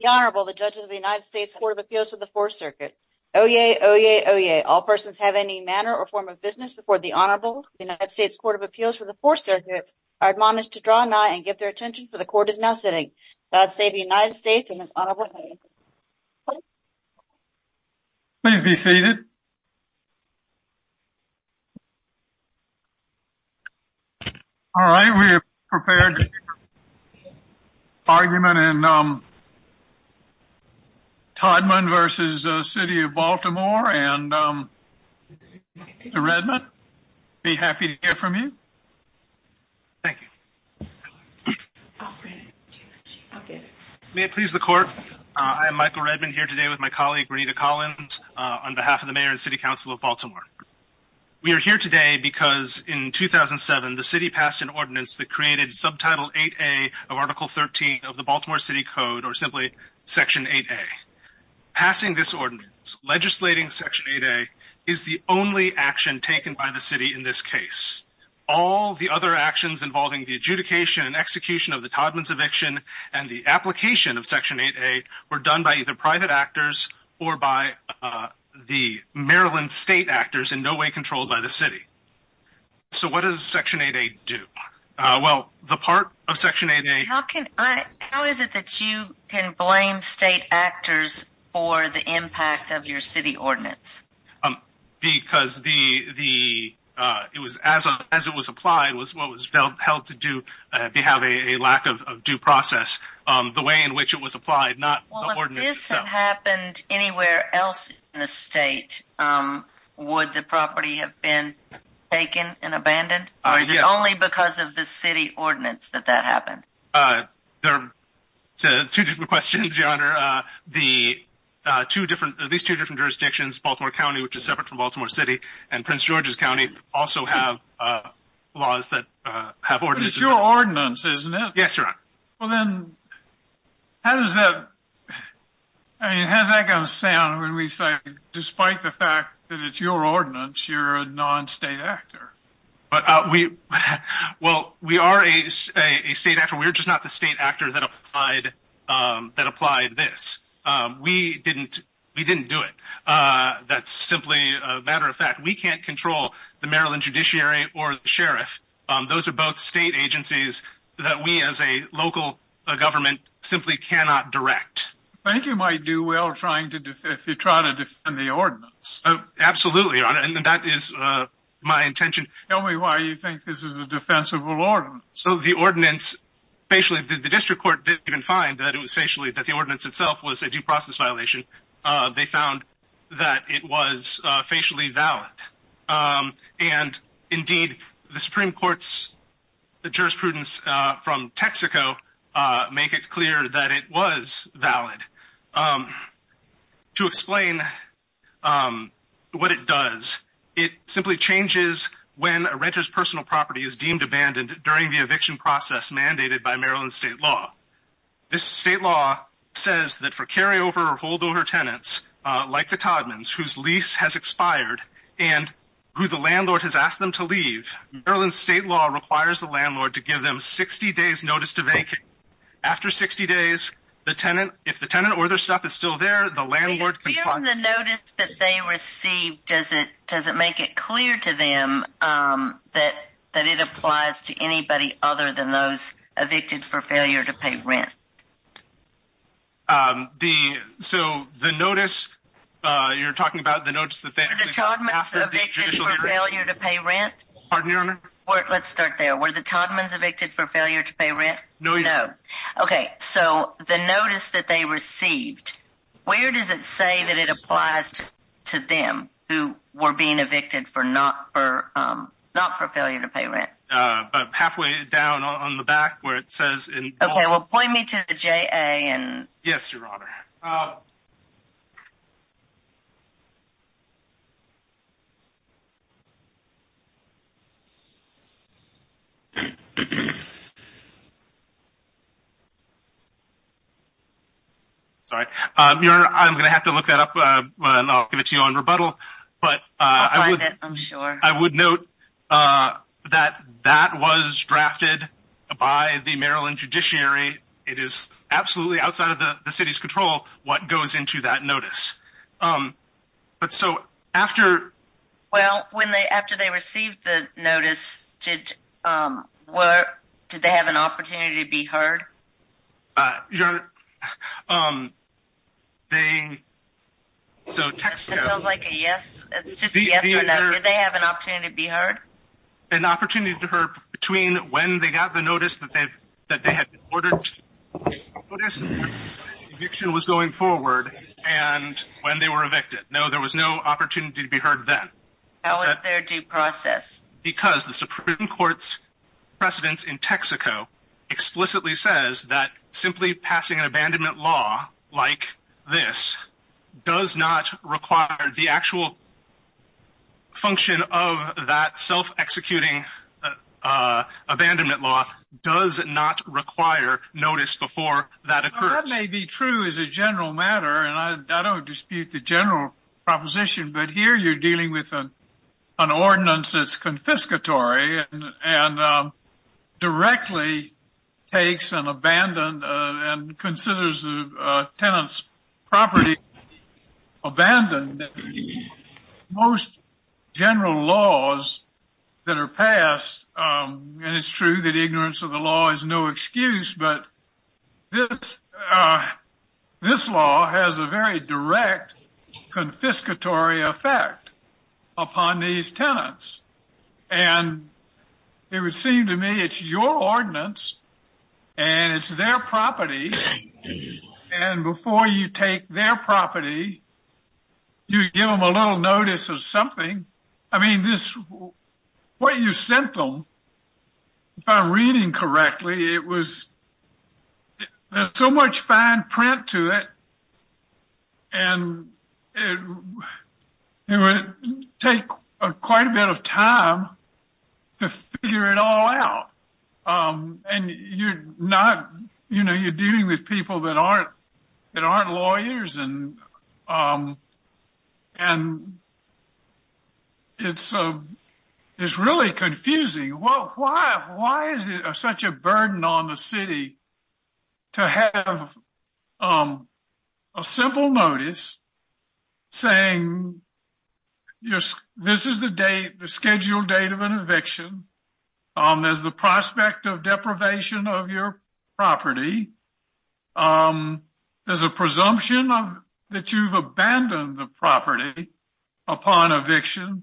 The Honorable, the Judges of the United States Court of Appeals for the Fourth Circuit. Oyez, oyez, oyez. All persons have any manner or form of business before the Honorable United States Court of Appeals for the Fourth Circuit. I admonish to draw nigh and give their attention for the court is now sitting. God save the United States and His Honorable Highness. Please be seated. All right, we are prepared to hear the argument in Todman v. City of Baltimore and Mr. Redmond, I'd be happy to hear from you. Thank you. May it please the court, I am Michael Redmond here today with my colleague Renita Collins on behalf of the Mayor and City Council of Baltimore. We are here today because in 2007 the city passed an ordinance that created Subtitle 8A of Article 13 of the Baltimore City Code or simply Section 8A. Passing this ordinance, legislating Section 8A, is the only action taken by the city in this case. All the other actions involving the adjudication and execution of the Todman's eviction and the application of Section 8A were done by either private actors or by the Maryland state actors in no way controlled by the city. So what does Section 8A do? Well, the part of Section 8A... How is it that you can blame state actors for the impact of your city ordinance? Because as it was applied, it was what was held to do to have a lack of due process. The way in which it was applied, not the ordinance itself. Well, if this had happened anywhere else in the state, would the property have been taken and abandoned? Or is it only because of the city ordinance that that happened? There are two different questions, Your Honor. These two different jurisdictions, Baltimore County, which is separate from Baltimore City, and Prince George's County, also have laws that have ordinances. But it's your ordinance, isn't it? Yes, Your Honor. Well then, how does that... I mean, how's that going to sound when we say, despite the fact that it's your ordinance, you're a non-state actor? Well, we are a state actor. We're just not the state actor that applied this. We didn't do it. That's simply a matter of fact. We can't control the Maryland Judiciary or the Sheriff. Those are both state agencies that we as a local government simply cannot direct. I think you might do well if you try to defend the ordinance. Absolutely, Your Honor. And that is my intention. Tell me why you think this is a defensible ordinance. So the ordinance... Basically, the district court didn't even find that it was facially... that the ordinance itself was a due process violation. They found that it was facially valid. And indeed, the Supreme Court's jurisprudence from Texaco make it clear that it was valid. To explain what it does, it simply changes when a renter's personal property is deemed abandoned during the eviction process mandated by Maryland state law. This state law says that for carryover or holdover tenants, like the Todmans, whose lease has expired and who the landlord has asked them to leave, Maryland state law requires the landlord to give them 60 days notice to vacate. After 60 days, if the tenant or their stuff is still there, the landlord can... Given the notice that they received, does it make it clear to them that it applies to anybody other than those evicted for failure to pay rent? So, the notice you're talking about... Were the Todmans evicted for failure to pay rent? Pardon me, Your Honor? Let's start there. Were the Todmans evicted for failure to pay rent? No. Okay, so the notice that they received, where does it say that it applies to them who were being evicted not for failure to pay rent? Halfway down on the back where it says... Okay, well point me to the JA and... Yes, Your Honor. Sorry. Your Honor, I'm going to have to look that up and I'll give it to you on rebuttal. I'll find it, I'm sure. I would note that that was drafted by the Maryland judiciary. It is absolutely outside of the city's control what goes into that notice. But so, after... Well, after they received the notice, did they have an opportunity to be heard? Your Honor, they... Does it feel like a yes? It's just a yes or no. Did they have an opportunity to be heard? An opportunity to be heard between when they got the notice that they had been ordered to... ...eviction was going forward and when they were evicted. No, there was no opportunity to be heard then. That was their due process. Because the Supreme Court's precedence in Texaco explicitly says that simply passing an abandonment law like this does not require... ...the actual function of that self-executing abandonment law does not require notice before that occurs. That may be true as a general matter and I don't dispute the general proposition. But here you're dealing with an ordinance that's confiscatory and directly takes an abandoned... ...and considers the tenant's property abandoned. Most general laws that are passed, and it's true that ignorance of the law is no excuse. But this law has a very direct confiscatory effect upon these tenants. And it would seem to me it's your ordinance and it's their property. And before you take their property, you give them a little notice of something. What you sent them, if I'm reading correctly, there's so much fine print to it. And it would take quite a bit of time to figure it all out. And you're dealing with people that aren't lawyers and it's really confusing. Why is it such a burden on the city to have a simple notice saying this is the scheduled date of an eviction... ...there's the prospect of deprivation of your property, there's a presumption that you've abandoned the property upon eviction.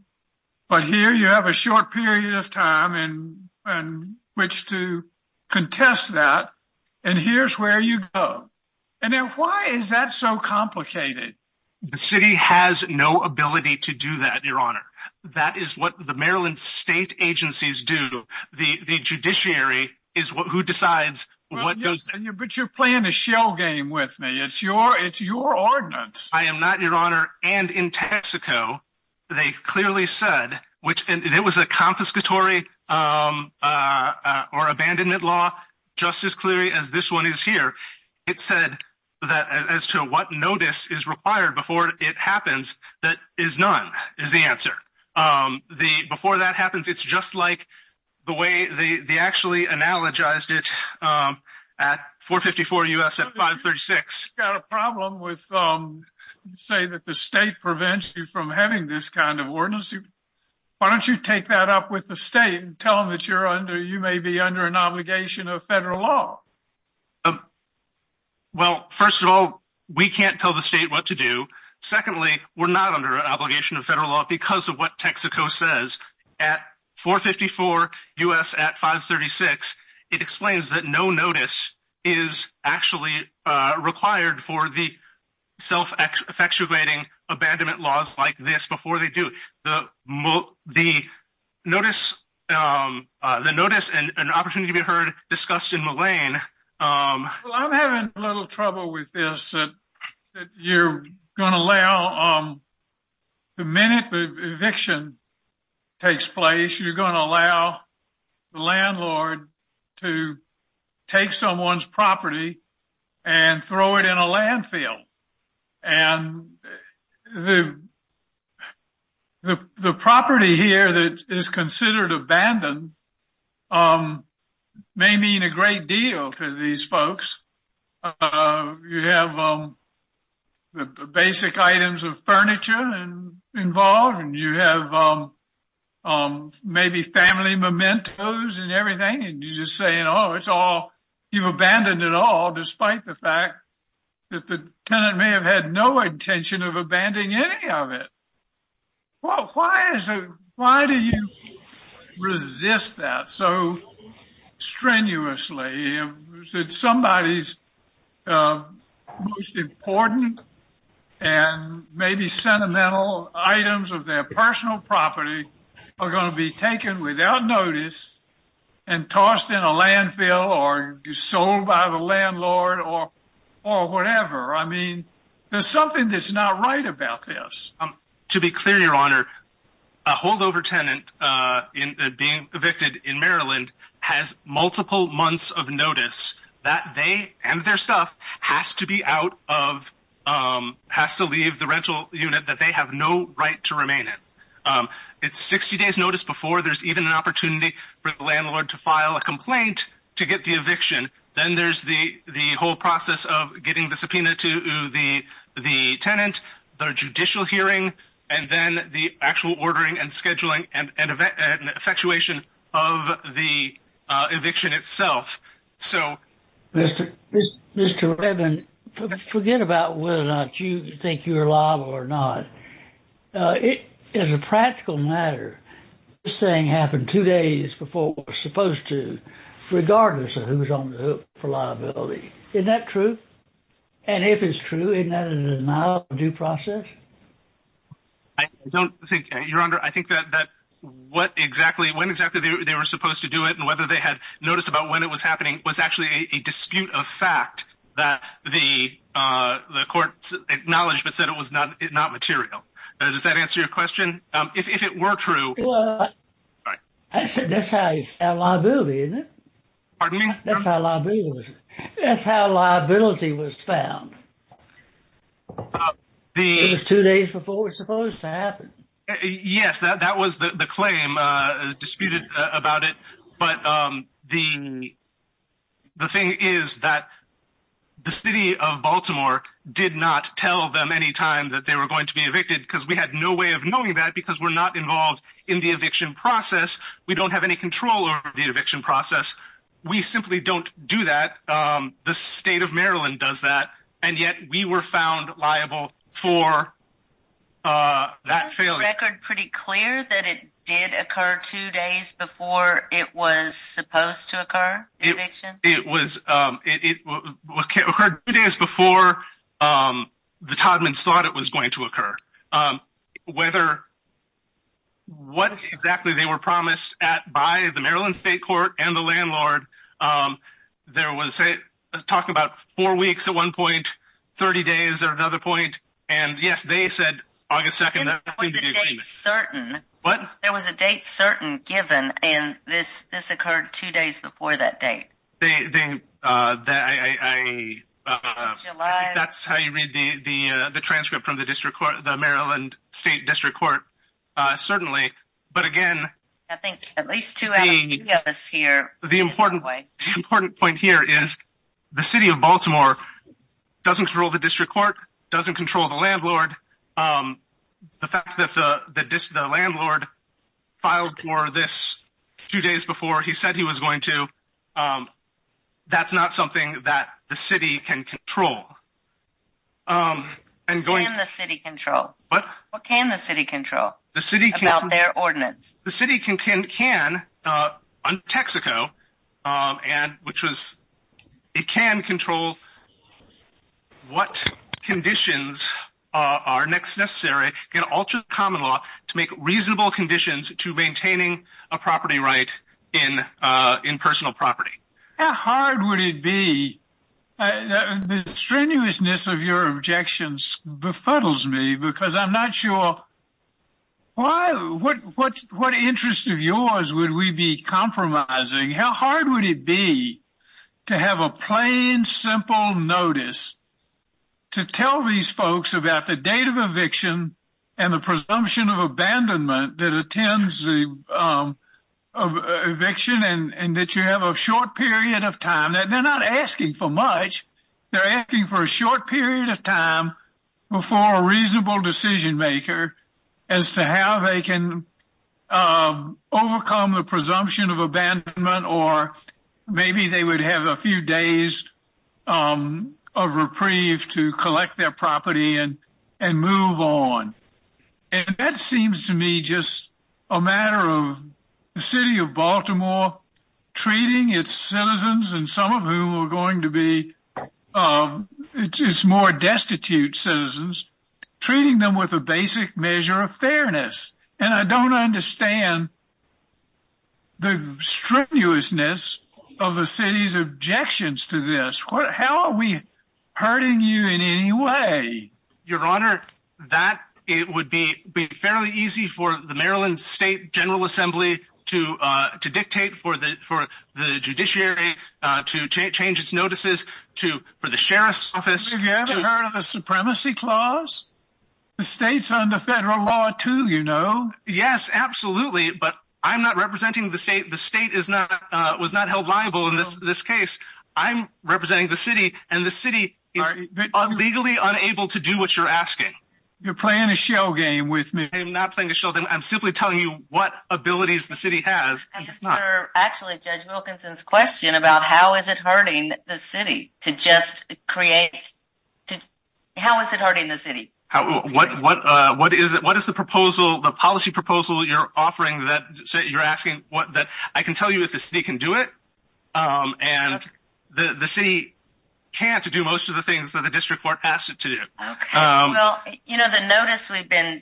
But here you have a short period of time in which to contest that and here's where you go. And then why is that so complicated? The city has no ability to do that, your honor. That is what the Maryland state agencies do. The judiciary is who decides what goes... But you're playing a shell game with me. It's your ordinance. I am not, your honor. And in Texaco, they clearly said, and it was a confiscatory or abandonment law just as clearly as this one is here. It said that as to what notice is required before it happens, that is none is the answer. Before that happens, it's just like the way they actually analogized it at 454 U.S. at 536. You've got a problem with saying that the state prevents you from having this kind of ordinance. Why don't you take that up with the state and tell them that you may be under an obligation of federal law? Well, first of all, we can't tell the state what to do. Secondly, we're not under an obligation of federal law because of what Texaco says. At 454 U.S. at 536, it explains that no notice is actually required for the self-effectuating abandonment laws like this before they do. The notice and an opportunity to be heard discussed in Mullane. Well, I'm having a little trouble with this, that you're going to allow the minute the eviction takes place, you're going to allow the landlord to take someone's property and throw it in a landfill. The property here that is considered abandoned may mean a great deal to these folks. You have the basic items of furniture involved and you have maybe family mementos and everything. You've abandoned it all despite the fact that the tenant may have had no intention of abandoning any of it. Why do you resist that so strenuously? Somebody's most important and maybe sentimental items of their personal property are going to be taken without notice and tossed in a landfill or sold by the landlord or whatever. I mean, there's something that's not right about this. To be clear, Your Honor, a holdover tenant being evicted in Maryland has multiple months of notice that they and their stuff has to leave the rental unit that they have no right to remain in. It's 60 days notice before there's even an opportunity for the landlord to file a complaint to get the eviction. Then there's the whole process of getting the subpoena to the tenant, the judicial hearing, and then the actual ordering and scheduling and effectuation of the eviction itself. Mr. Redmond, forget about whether or not you think you're liable or not. As a practical matter, this thing happened two days before it was supposed to, regardless of who's on the hook for liability. Isn't that true? And if it's true, isn't that a denial of due process? I don't think, Your Honor, I think that when exactly they were supposed to do it and whether they had notice about when it was happening was actually a dispute of fact that the court acknowledged but said it was not material. Does that answer your question? If it were true— Well, that's how you found liability, isn't it? Pardon me? That's how liability was found. It was two days before it was supposed to happen. Yes, that was the claim disputed about it. But the thing is that the city of Baltimore did not tell them any time that they were going to be evicted because we had no way of knowing that because we're not involved in the eviction process. We don't have any control over the eviction process. We simply don't do that. The state of Maryland does that, and yet we were found liable for that failure. Is the record pretty clear that it did occur two days before it was supposed to occur, the eviction? It occurred two days before the Todmans thought it was going to occur. Whether—what exactly they were promised by the Maryland State Court and the landlord, there was talk about four weeks at one point, 30 days at another point, and yes, they said August 2nd. Was the date certain? What? There was a date certain given, and this occurred two days before that date? I think that's how you read the transcript from the Maryland State District Court, certainly. But again, the important point here is the city of Baltimore doesn't control the district court, and the fact that the landlord filed for this two days before he said he was going to, that's not something that the city can control. Can the city control? What can the city control about their ordinance? The city can, under Texaco, which was—it can control what conditions are necessary in ultra-common law to make reasonable conditions to maintaining a property right in personal property. How hard would it be? The strenuousness of your objections befuddles me because I'm not sure why— what interest of yours would we be compromising? How hard would it be to have a plain, simple notice to tell these folks about the date of eviction and the presumption of abandonment that attends the eviction and that you have a short period of time? They're not asking for much. They're asking for a short period of time before a reasonable decision maker as to how they can overcome the presumption of abandonment or maybe they would have a few days of reprieve to collect their property and move on. And that seems to me just a matter of the city of Baltimore treating its citizens and some of whom are going to be its more destitute citizens, treating them with a basic measure of fairness. And I don't understand the strenuousness of the city's objections to this. How are we hurting you in any way? Your Honor, it would be fairly easy for the Maryland State General Assembly to dictate for the judiciary to change its notices for the Sheriff's Office— Have you ever heard of the Supremacy Clause? The state's under federal law too, you know. Yes, absolutely, but I'm not representing the state. The state was not held liable in this case. I'm representing the city, and the city is legally unable to do what you're asking. You're playing a show game with me. I'm not playing a show game. I'm simply telling you what abilities the city has. Actually, Judge Wilkinson's question about how is it hurting the city to just create— how is it hurting the city? I can tell you if the city can do it, and the city can't do most of the things that the district court asked it to do. Okay, well, you know the notice we've been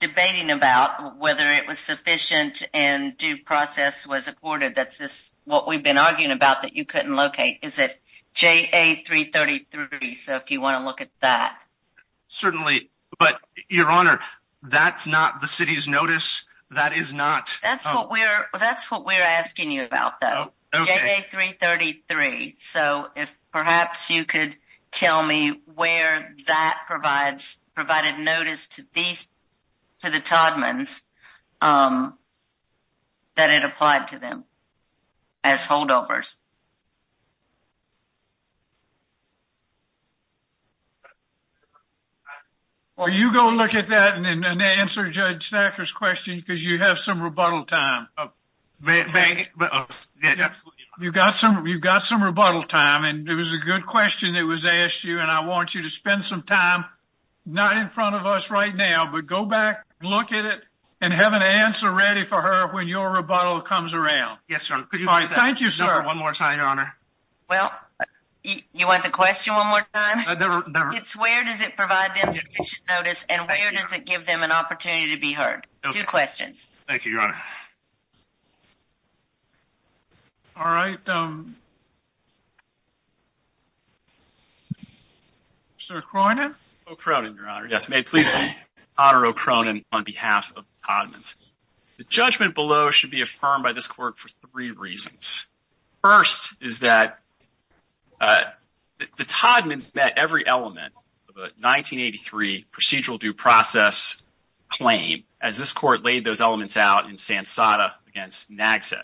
debating about, whether it was sufficient and due process was afforded, that's what we've been arguing about that you couldn't locate. Is it JA-333? So if you want to look at that. Certainly, but Your Honor, that's not the city's notice. That is not— That's what we're asking you about, though, JA-333. So if perhaps you could tell me where that provides— provided notice to the Todmans that it applied to them as holdovers. Well, you go look at that and answer Judge Thacker's question, because you have some rebuttal time. You've got some rebuttal time, and it was a good question that was asked you, and I want you to spend some time, not in front of us right now, but go back, look at it, and have an answer ready for her when your rebuttal comes around. Yes, Your Honor. Thank you, sir. One more time, Your Honor. Well, you want the question one more time? It's where does it provide them sufficient notice, and where does it give them an opportunity to be heard? Two questions. Thank you, Your Honor. Mr. O'Cronin? O'Cronin, Your Honor. Yes, may it please me to honor O'Cronin on behalf of the Todmans. The judgment below should be affirmed by this court for three reasons. First is that the Todmans met every element of a 1983 procedural due process claim, as this court laid those elements out in Sansada against Nagset.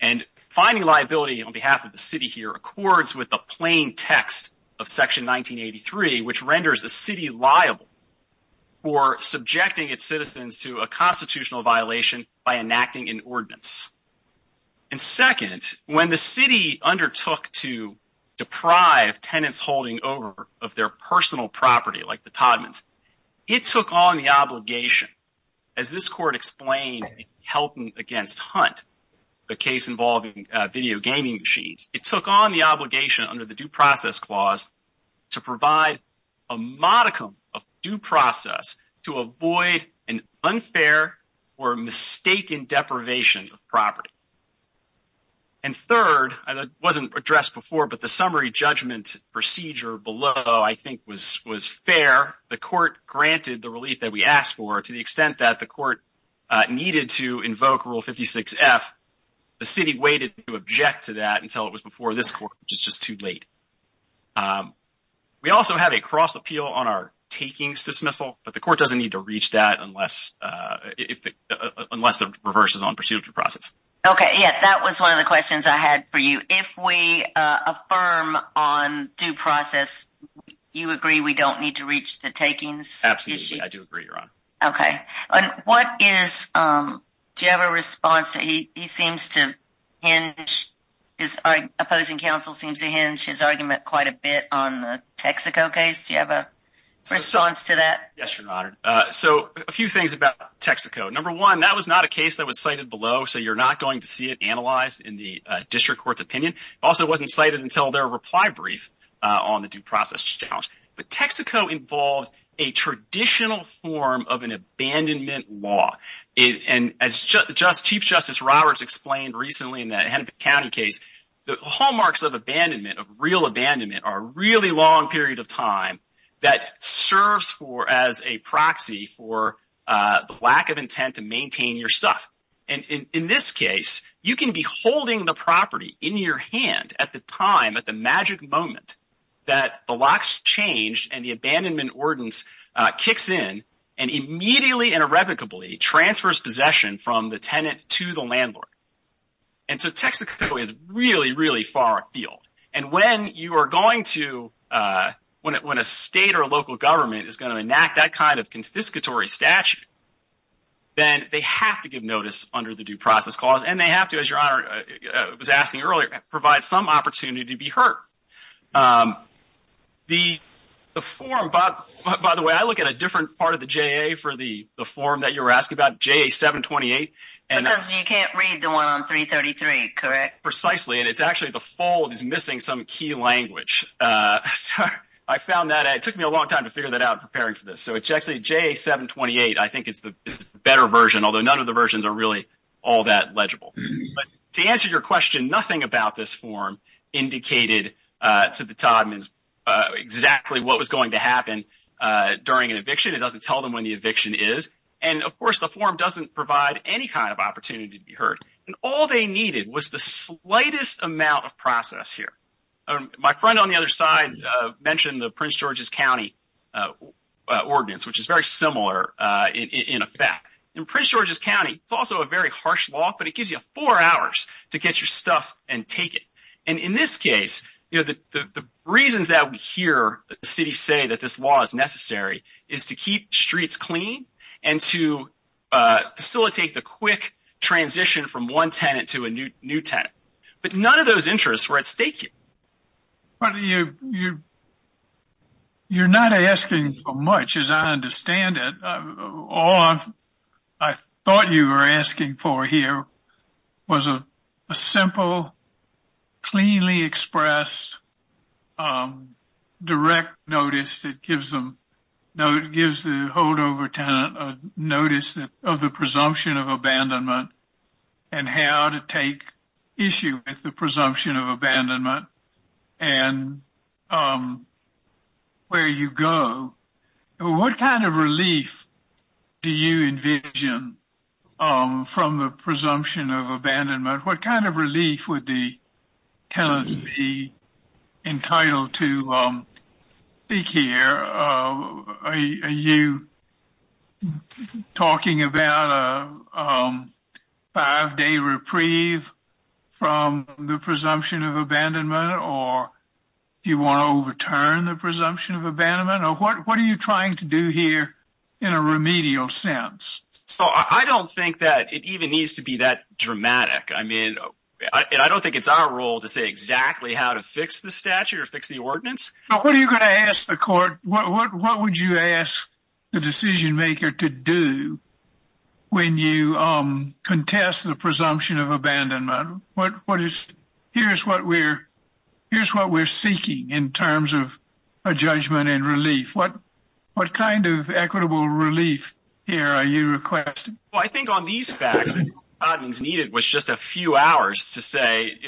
And finding liability on behalf of the city here accords with the plain text of Section 1983, which renders a city liable for subjecting its citizens to a constitutional violation by enacting an ordinance. And second, when the city undertook to deprive tenants holding over of their personal property like the Todmans, it took on the obligation, as this court explained in Helping Against Hunt, the case involving video gaming machines, it took on the obligation under the Due Process Clause to provide a modicum of due process to avoid an unfair or mistaken deprivation of property. And third, and it wasn't addressed before, but the summary judgment procedure below, I think, was fair. The court granted the relief that we asked for to the extent that the court needed to invoke Rule 56F. The city waited to object to that until it was before this court, which is just too late. We also have a cross appeal on our takings dismissal, but the court doesn't need to reach that unless the reverse is on pursuit of due process. OK, yeah, that was one of the questions I had for you. If we affirm on due process, you agree we don't need to reach the takings? Absolutely. I do agree, Ron. Do you have a response? He seems to hinge, his opposing counsel seems to hinge his argument quite a bit on the Texaco case. Do you have a response to that? Yes, Your Honor. So a few things about Texaco. Number one, that was not a case that was cited below, so you're not going to see it analyzed in the district court's opinion. Also, it wasn't cited until their reply brief on the due process challenge. But Texaco involved a traditional form of an abandonment law. And as Chief Justice Roberts explained recently in the Hennepin County case, the hallmarks of abandonment, of real abandonment, are a really long period of time that serves as a proxy for the lack of intent to maintain your stuff. And in this case, you can be holding the property in your hand at the time, that the locks change and the abandonment ordinance kicks in and immediately and irrevocably transfers possession from the tenant to the landlord. And so Texaco is really, really far afield. And when a state or local government is going to enact that kind of confiscatory statute, then they have to give notice under the due process clause, and they have to, as Your Honor was asking earlier, provide some opportunity to be heard. The form, by the way, I look at a different part of the JA for the form that you were asking about, JA-728. Because you can't read the one on 333, correct? Precisely, and it's actually the fold is missing some key language. So I found that, and it took me a long time to figure that out preparing for this. So it's actually JA-728, I think it's the better version, although none of the versions are really all that legible. But to answer your question, nothing about this form indicated to the Todmans exactly what was going to happen during an eviction. It doesn't tell them when the eviction is. And, of course, the form doesn't provide any kind of opportunity to be heard. And all they needed was the slightest amount of process here. My friend on the other side mentioned the Prince George's County ordinance, which is very similar in effect. In Prince George's County, it's also a very harsh law, but it gives you four hours to get your stuff and take it. And in this case, the reasons that we hear the city say that this law is necessary is to keep streets clean and to facilitate the quick transition from one tenant to a new tenant. But none of those interests were at stake here. But you're not asking for much, as I understand it. All I thought you were asking for here was a simple, cleanly expressed direct notice that gives the holdover tenant a notice of the presumption of abandonment and how to take issue with the presumption of abandonment. And where you go. What kind of relief do you envision from the presumption of abandonment? What kind of relief would the tenants be entitled to? Speak here. Are you talking about a five-day reprieve from the presumption of abandonment? Or do you want to overturn the presumption of abandonment? What are you trying to do here in a remedial sense? I don't think that it even needs to be that dramatic. I don't think it's our role to say exactly how to fix the statute or fix the ordinance. What are you going to ask the court? What would you ask the decision-maker to do when you contest the presumption of abandonment? Here's what we're seeking in terms of a judgment and relief. What kind of equitable relief here are you requesting? I think on these facts, what the Todman's needed was just a few hours to say,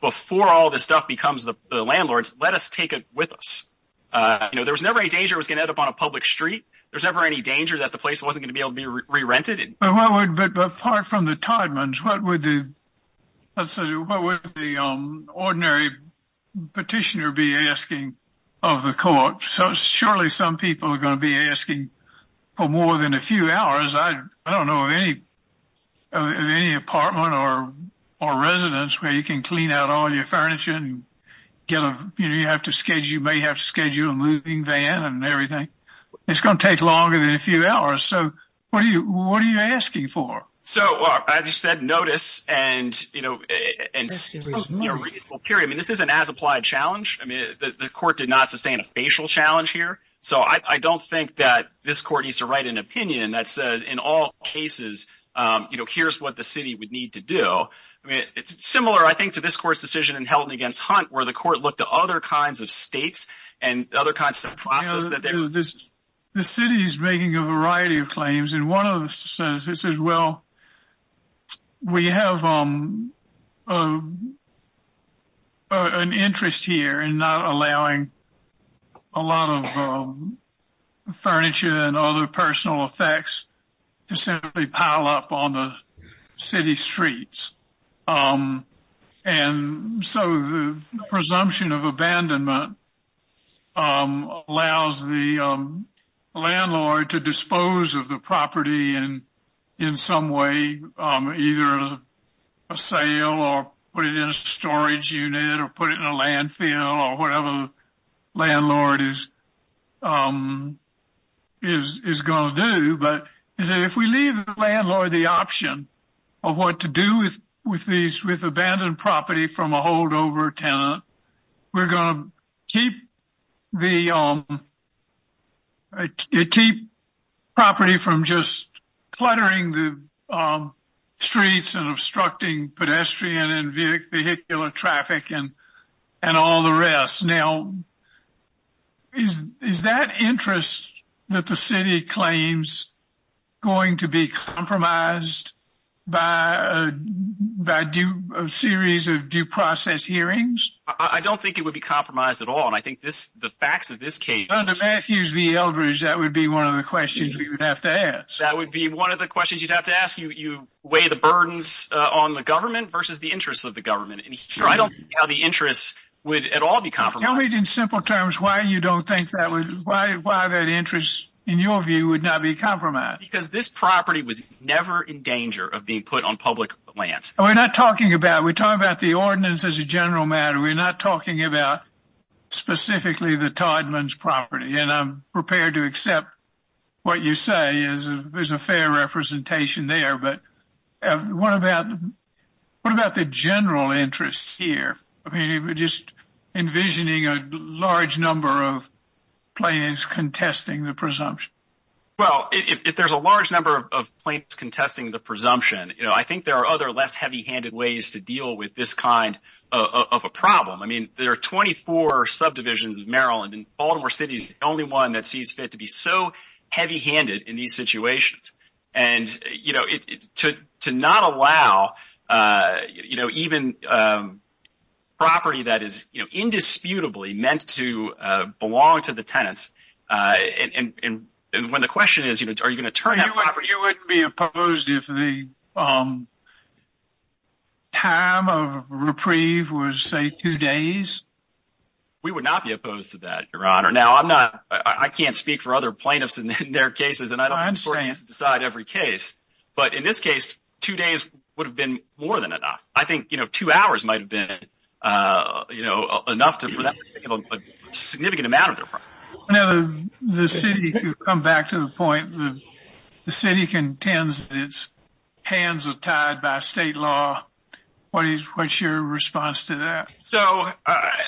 before all this stuff becomes the landlord's, let us take it with us. There was never a danger it was going to end up on a public street. There was never any danger that the place wasn't going to be able to be re-rented. But apart from the Todman's, what would the ordinary petitioner be asking of the court? Surely some people are going to be asking for more than a few hours. I don't know of any apartment or residence where you can clean out all your furniture. You may have to schedule a moving van and everything. It's going to take longer than a few hours. What are you asking for? I just said notice and a reasonable period. This is an as-applied challenge. The court did not sustain a facial challenge here. I don't think that this court needs to write an opinion that says, in all cases, here's what the city would need to do. It's similar, I think, to this court's decision in Helton against Hunt, where the court looked at other kinds of states and other kinds of process. The city is making a variety of claims. In one of the sentences, it says, well, we have an interest here in not allowing a lot of furniture and other personal effects to simply pile up on the city streets. The presumption of abandonment allows the landlord to dispose of the property in some way, either a sale, or put it in a storage unit, or put it in a landfill, or whatever the landlord is going to do. I don't know if that's what the landlord is going to do, but if we leave the landlord the option of what to do with abandoned property from a holdover tenant, we're going to keep the property from just cluttering the streets and obstructing pedestrian and vehicular traffic and all the rest. Now, is that interest that the city claims going to be compromised by a series of due process hearings? I don't think it would be compromised at all. I think the facts of this case. Under Matthews v. Eldridge, that would be one of the questions we would have to ask. That would be one of the questions you'd have to ask. You weigh the burdens on the government versus the interests of the government. I don't see how the interests would at all be compromised. Tell me in simple terms why you don't think that would, why that interest in your view would not be compromised. Because this property was never in danger of being put on public lands. We're not talking about, we're talking about the ordinance as a general matter. We're not talking about specifically the Todman's property, and I'm prepared to accept what you say is a fair representation there. But what about the general interests here? I mean, just envisioning a large number of plaintiffs contesting the presumption. Well, if there's a large number of plaintiffs contesting the presumption, I think there are other less heavy-handed ways to deal with this kind of a problem. I mean, there are 24 subdivisions of Maryland, and Baltimore City is the only one that sees fit to be so heavy-handed in these situations. And to not allow even property that is indisputably meant to belong to the tenants, and when the question is, are you going to turn that property? You wouldn't be opposed if the time of reprieve was, say, two days? We would not be opposed to that, Your Honor. Now, I can't speak for other plaintiffs in their cases, and I don't think the court needs to decide every case. But in this case, two days would have been more than enough. I think two hours might have been enough for them to take a significant amount of their property. Now, the city, to come back to the point, the city contends that its hands are tied by state law. What's your response to that? So I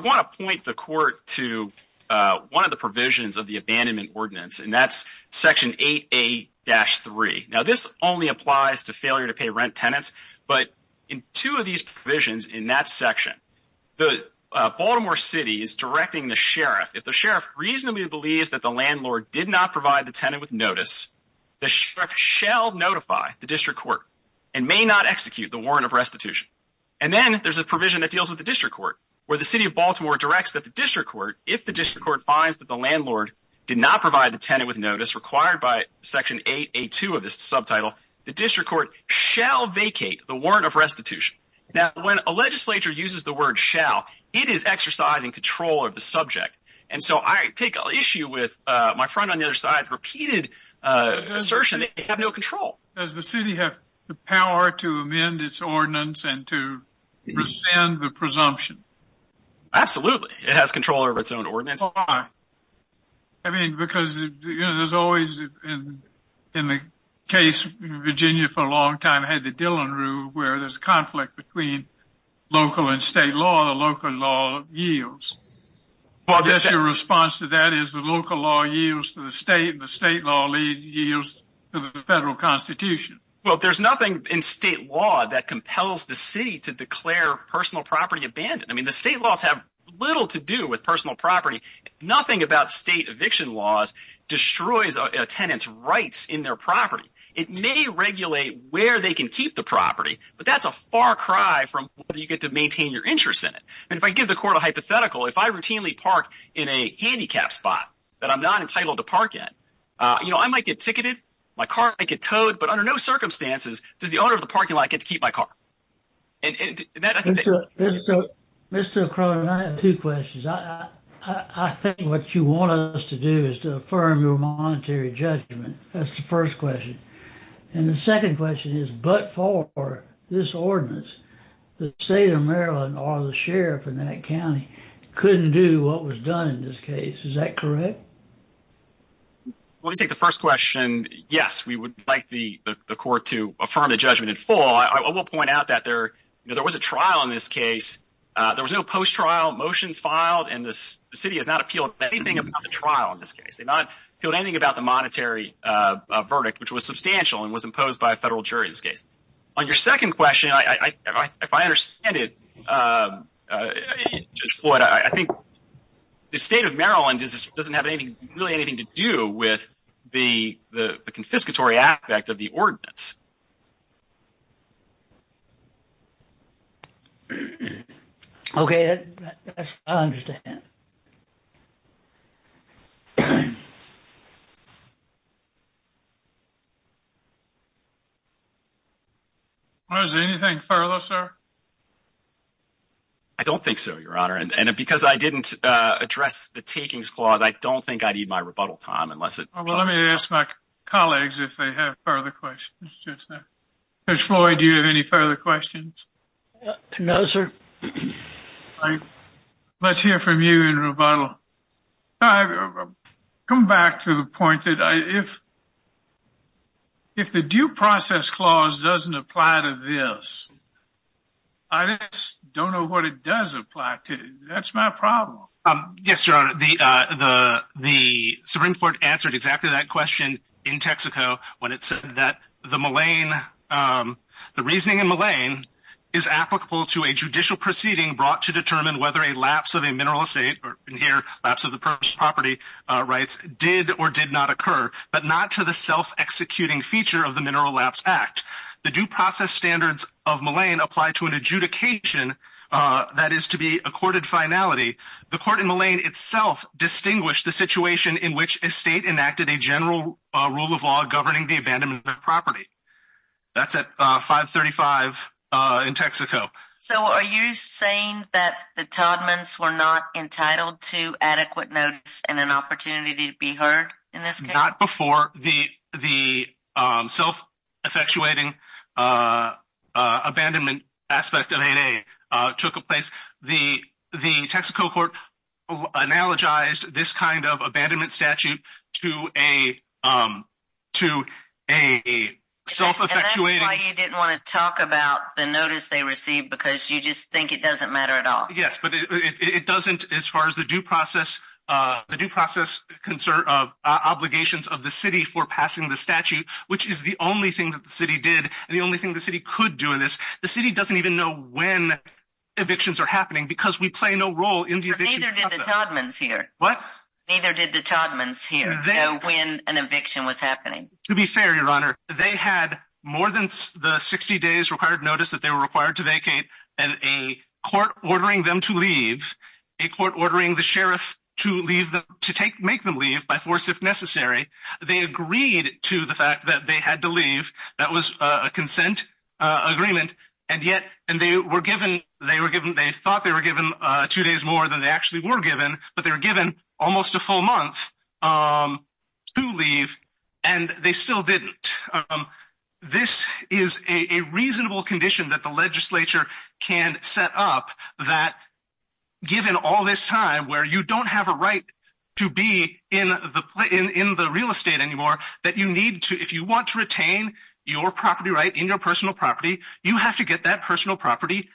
want to point the court to one of the provisions of the abandonment ordinance, and that's Section 8A-3. Now, this only applies to failure-to-pay-rent tenants, but in two of these provisions in that section, Baltimore City is directing the sheriff, if the sheriff reasonably believes that the landlord did not provide the tenant with notice, the sheriff shall notify the district court and may not execute the warrant of restitution. And then there's a provision that deals with the district court, where the city of Baltimore directs that the district court, if the district court finds that the landlord did not provide the tenant with notice, required by Section 8A-2 of this subtitle, the district court shall vacate the warrant of restitution. Now, when a legislature uses the word shall, it is exercising control of the subject. And so I take issue with my friend on the other side's repeated assertion that they have no control. Does the city have the power to amend its ordinance and to rescind the presumption? Absolutely. It has control over its own ordinance. Why? I mean, because there's always, in the case in Virginia for a long time, had the Dillon Rule, where there's a conflict between local and state law, the local law yields. Well, I guess your response to that is the local law yields to the state, and the state law yields to the federal constitution. Well, there's nothing in state law that compels the city to declare personal property abandoned. I mean, the state laws have little to do with personal property. Nothing about state eviction laws destroys a tenant's rights in their property. It may regulate where they can keep the property, but that's a far cry from whether you get to maintain your interest in it. And if I give the court a hypothetical, if I routinely park in a handicap spot that I'm not entitled to park in, you know, I might get ticketed, my car might get towed, but under no circumstances does the owner of the parking lot get to keep my car. Mr. O'Connor, I have two questions. I think what you want us to do is to affirm your monetary judgment. That's the first question. And the second question is, but for this ordinance, the state of Maryland or the sheriff in that county couldn't do what was done in this case. Is that correct? Let me take the first question. Yes, we would like the court to affirm the judgment in full. I will point out that there was a trial in this case. There was no post-trial motion filed, and the city has not appealed anything about the trial in this case. They've not appealed anything about the monetary verdict, which was substantial and was imposed by a federal jury in this case. On your second question, if I understand it, Judge Floyd, I think the state of Maryland doesn't have really anything to do with the confiscatory aspect of the ordinance. Okay, I understand. I don't think so, Your Honor. And because I didn't address the takings clause, I don't think I'd need my rebuttal, Tom. Well, let me ask my colleagues if they have further questions. Judge Floyd, do you have any further questions? No, sir. Let's hear from you in rebuttal. I've come back to the point that if the due process clause doesn't apply to this, I just don't know what it does apply to. That's my problem. Yes, Your Honor. The Supreme Court answered exactly that question in Texaco when it said that the reason in Mullane is applicable to a judicial proceeding brought to determine whether a lapse of a mineral estate or, in here, lapse of the property rights did or did not occur, but not to the self-executing feature of the Mineral Lapse Act. The due process standards of Mullane apply to an adjudication that is to be a courted finality. The court in Mullane itself distinguished the situation in which a state enacted a general rule of law governing the abandonment of property. That's at 535 in Texaco. So are you saying that the Todmans were not entitled to adequate notice and an opportunity to be heard in this case? Not before the self-effectuating abandonment aspect of 8A took place. The Texaco court analogized this kind of abandonment statute to a self-effectuating... And that's why you didn't want to talk about the notice they received because you just think it doesn't matter at all. Yes, but it doesn't as far as the due process obligations of the city for passing the statute, which is the only thing that the city did and the only thing the city could do in this. The city doesn't even know when evictions are happening because we play no role in the eviction process. But neither did the Todmans here. What? Neither did the Todmans here know when an eviction was happening. To be fair, Your Honor, they had more than the 60 days required notice that they were required to vacate and a court ordering them to leave, a court ordering the sheriff to make them leave by force if necessary. They agreed to the fact that they had to leave. That was a consent agreement. And they thought they were given two days more than they actually were given, but they were given almost a full month to leave. And they still didn't. This is a reasonable condition that the legislature can set up that, given all this time, where you don't have a right to be in the real estate anymore, that you need to, if you want to retain your property right in your personal property, you have to get that personal property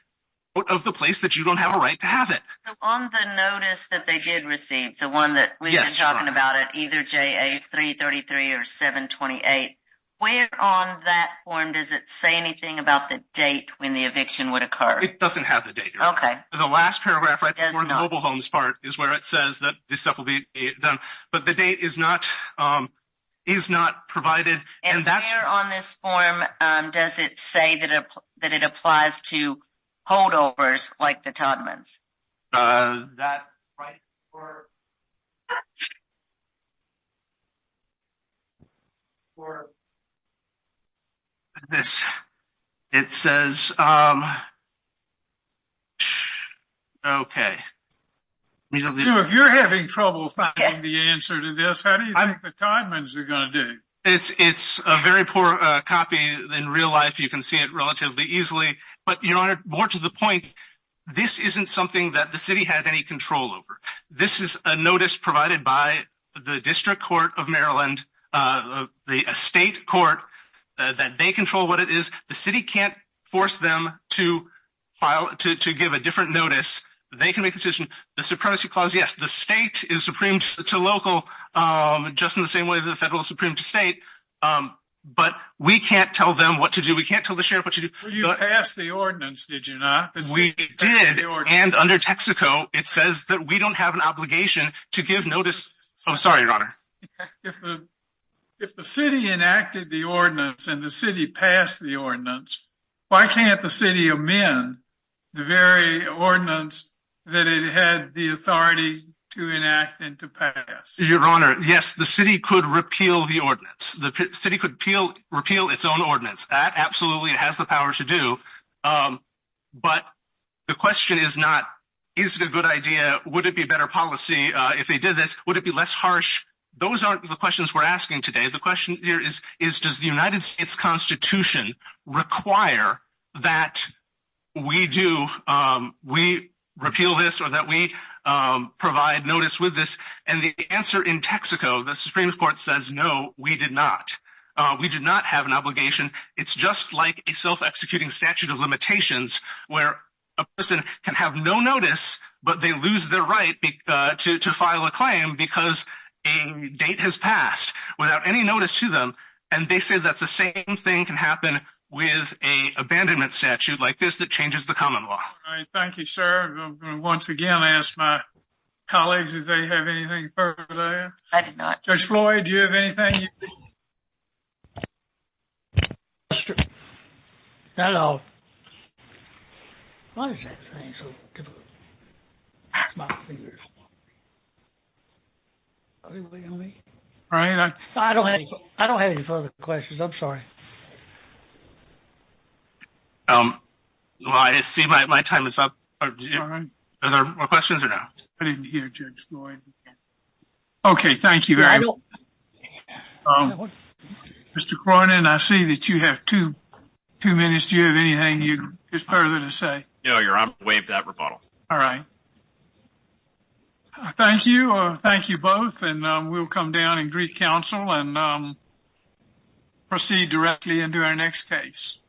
out of the place that you don't have a right to have it. On the notice that they did receive, the one that we've been talking about, either JA333 or 728, where on that form does it say anything about the date when the eviction would occur? It doesn't have the date. Okay. The last paragraph right before the mobile homes part is where it says that this stuff will be done. But the date is not provided. And where on this form does it say that it applies to holdovers like the Todman's? That's right. It says, okay. If you're having trouble finding the answer to this, how do you think the Todman's are going to do? It's a very poor copy in real life. You can see it relatively easily. But, Your Honor, more to the point, this isn't something that the city had any control over. This is a notice provided by the District Court of Maryland, a state court, that they control what it is. The city can't force them to give a different notice. They can make the decision. Yes, the state is supreme to local just in the same way the federal is supreme to state. But we can't tell them what to do. We can't tell the sheriff what to do. You passed the ordinance, did you not? We did. And under Texaco, it says that we don't have an obligation to give notice. I'm sorry, Your Honor. If the city enacted the ordinance and the city passed the ordinance, why can't the city amend the very ordinance that it had the authority to enact and to pass? Your Honor, yes, the city could repeal the ordinance. The city could repeal its own ordinance. Absolutely, it has the power to do. But the question is not is it a good idea? Would it be better policy if they did this? Would it be less harsh? Those aren't the questions we're asking today. The question here is does the United States Constitution require that we do, we repeal this or that we provide notice with this? And the answer in Texaco, the Supreme Court says, no, we did not. We did not have an obligation. It's just like a self-executing statute of limitations where a person can have no notice but they lose their right to file a claim because a date has passed without any notice to them. And they say that's the same thing can happen with an abandonment statute like this that changes the common law. Thank you, sir. I'm going to once again ask my colleagues if they have anything further to add. I do not. Judge Floyd, do you have anything? Hello. What is that thing? I don't have any further questions. I'm sorry. Well, I see my time is up. Are there more questions or no? Okay, thank you very much. Mr. Cronin, I see that you have two minutes. Do you have anything further to say? No, Your Honor. I'm waiting for that rebuttal. All right. Thank you. Thank you both. And we'll come down and greet counsel and proceed directly into our next case.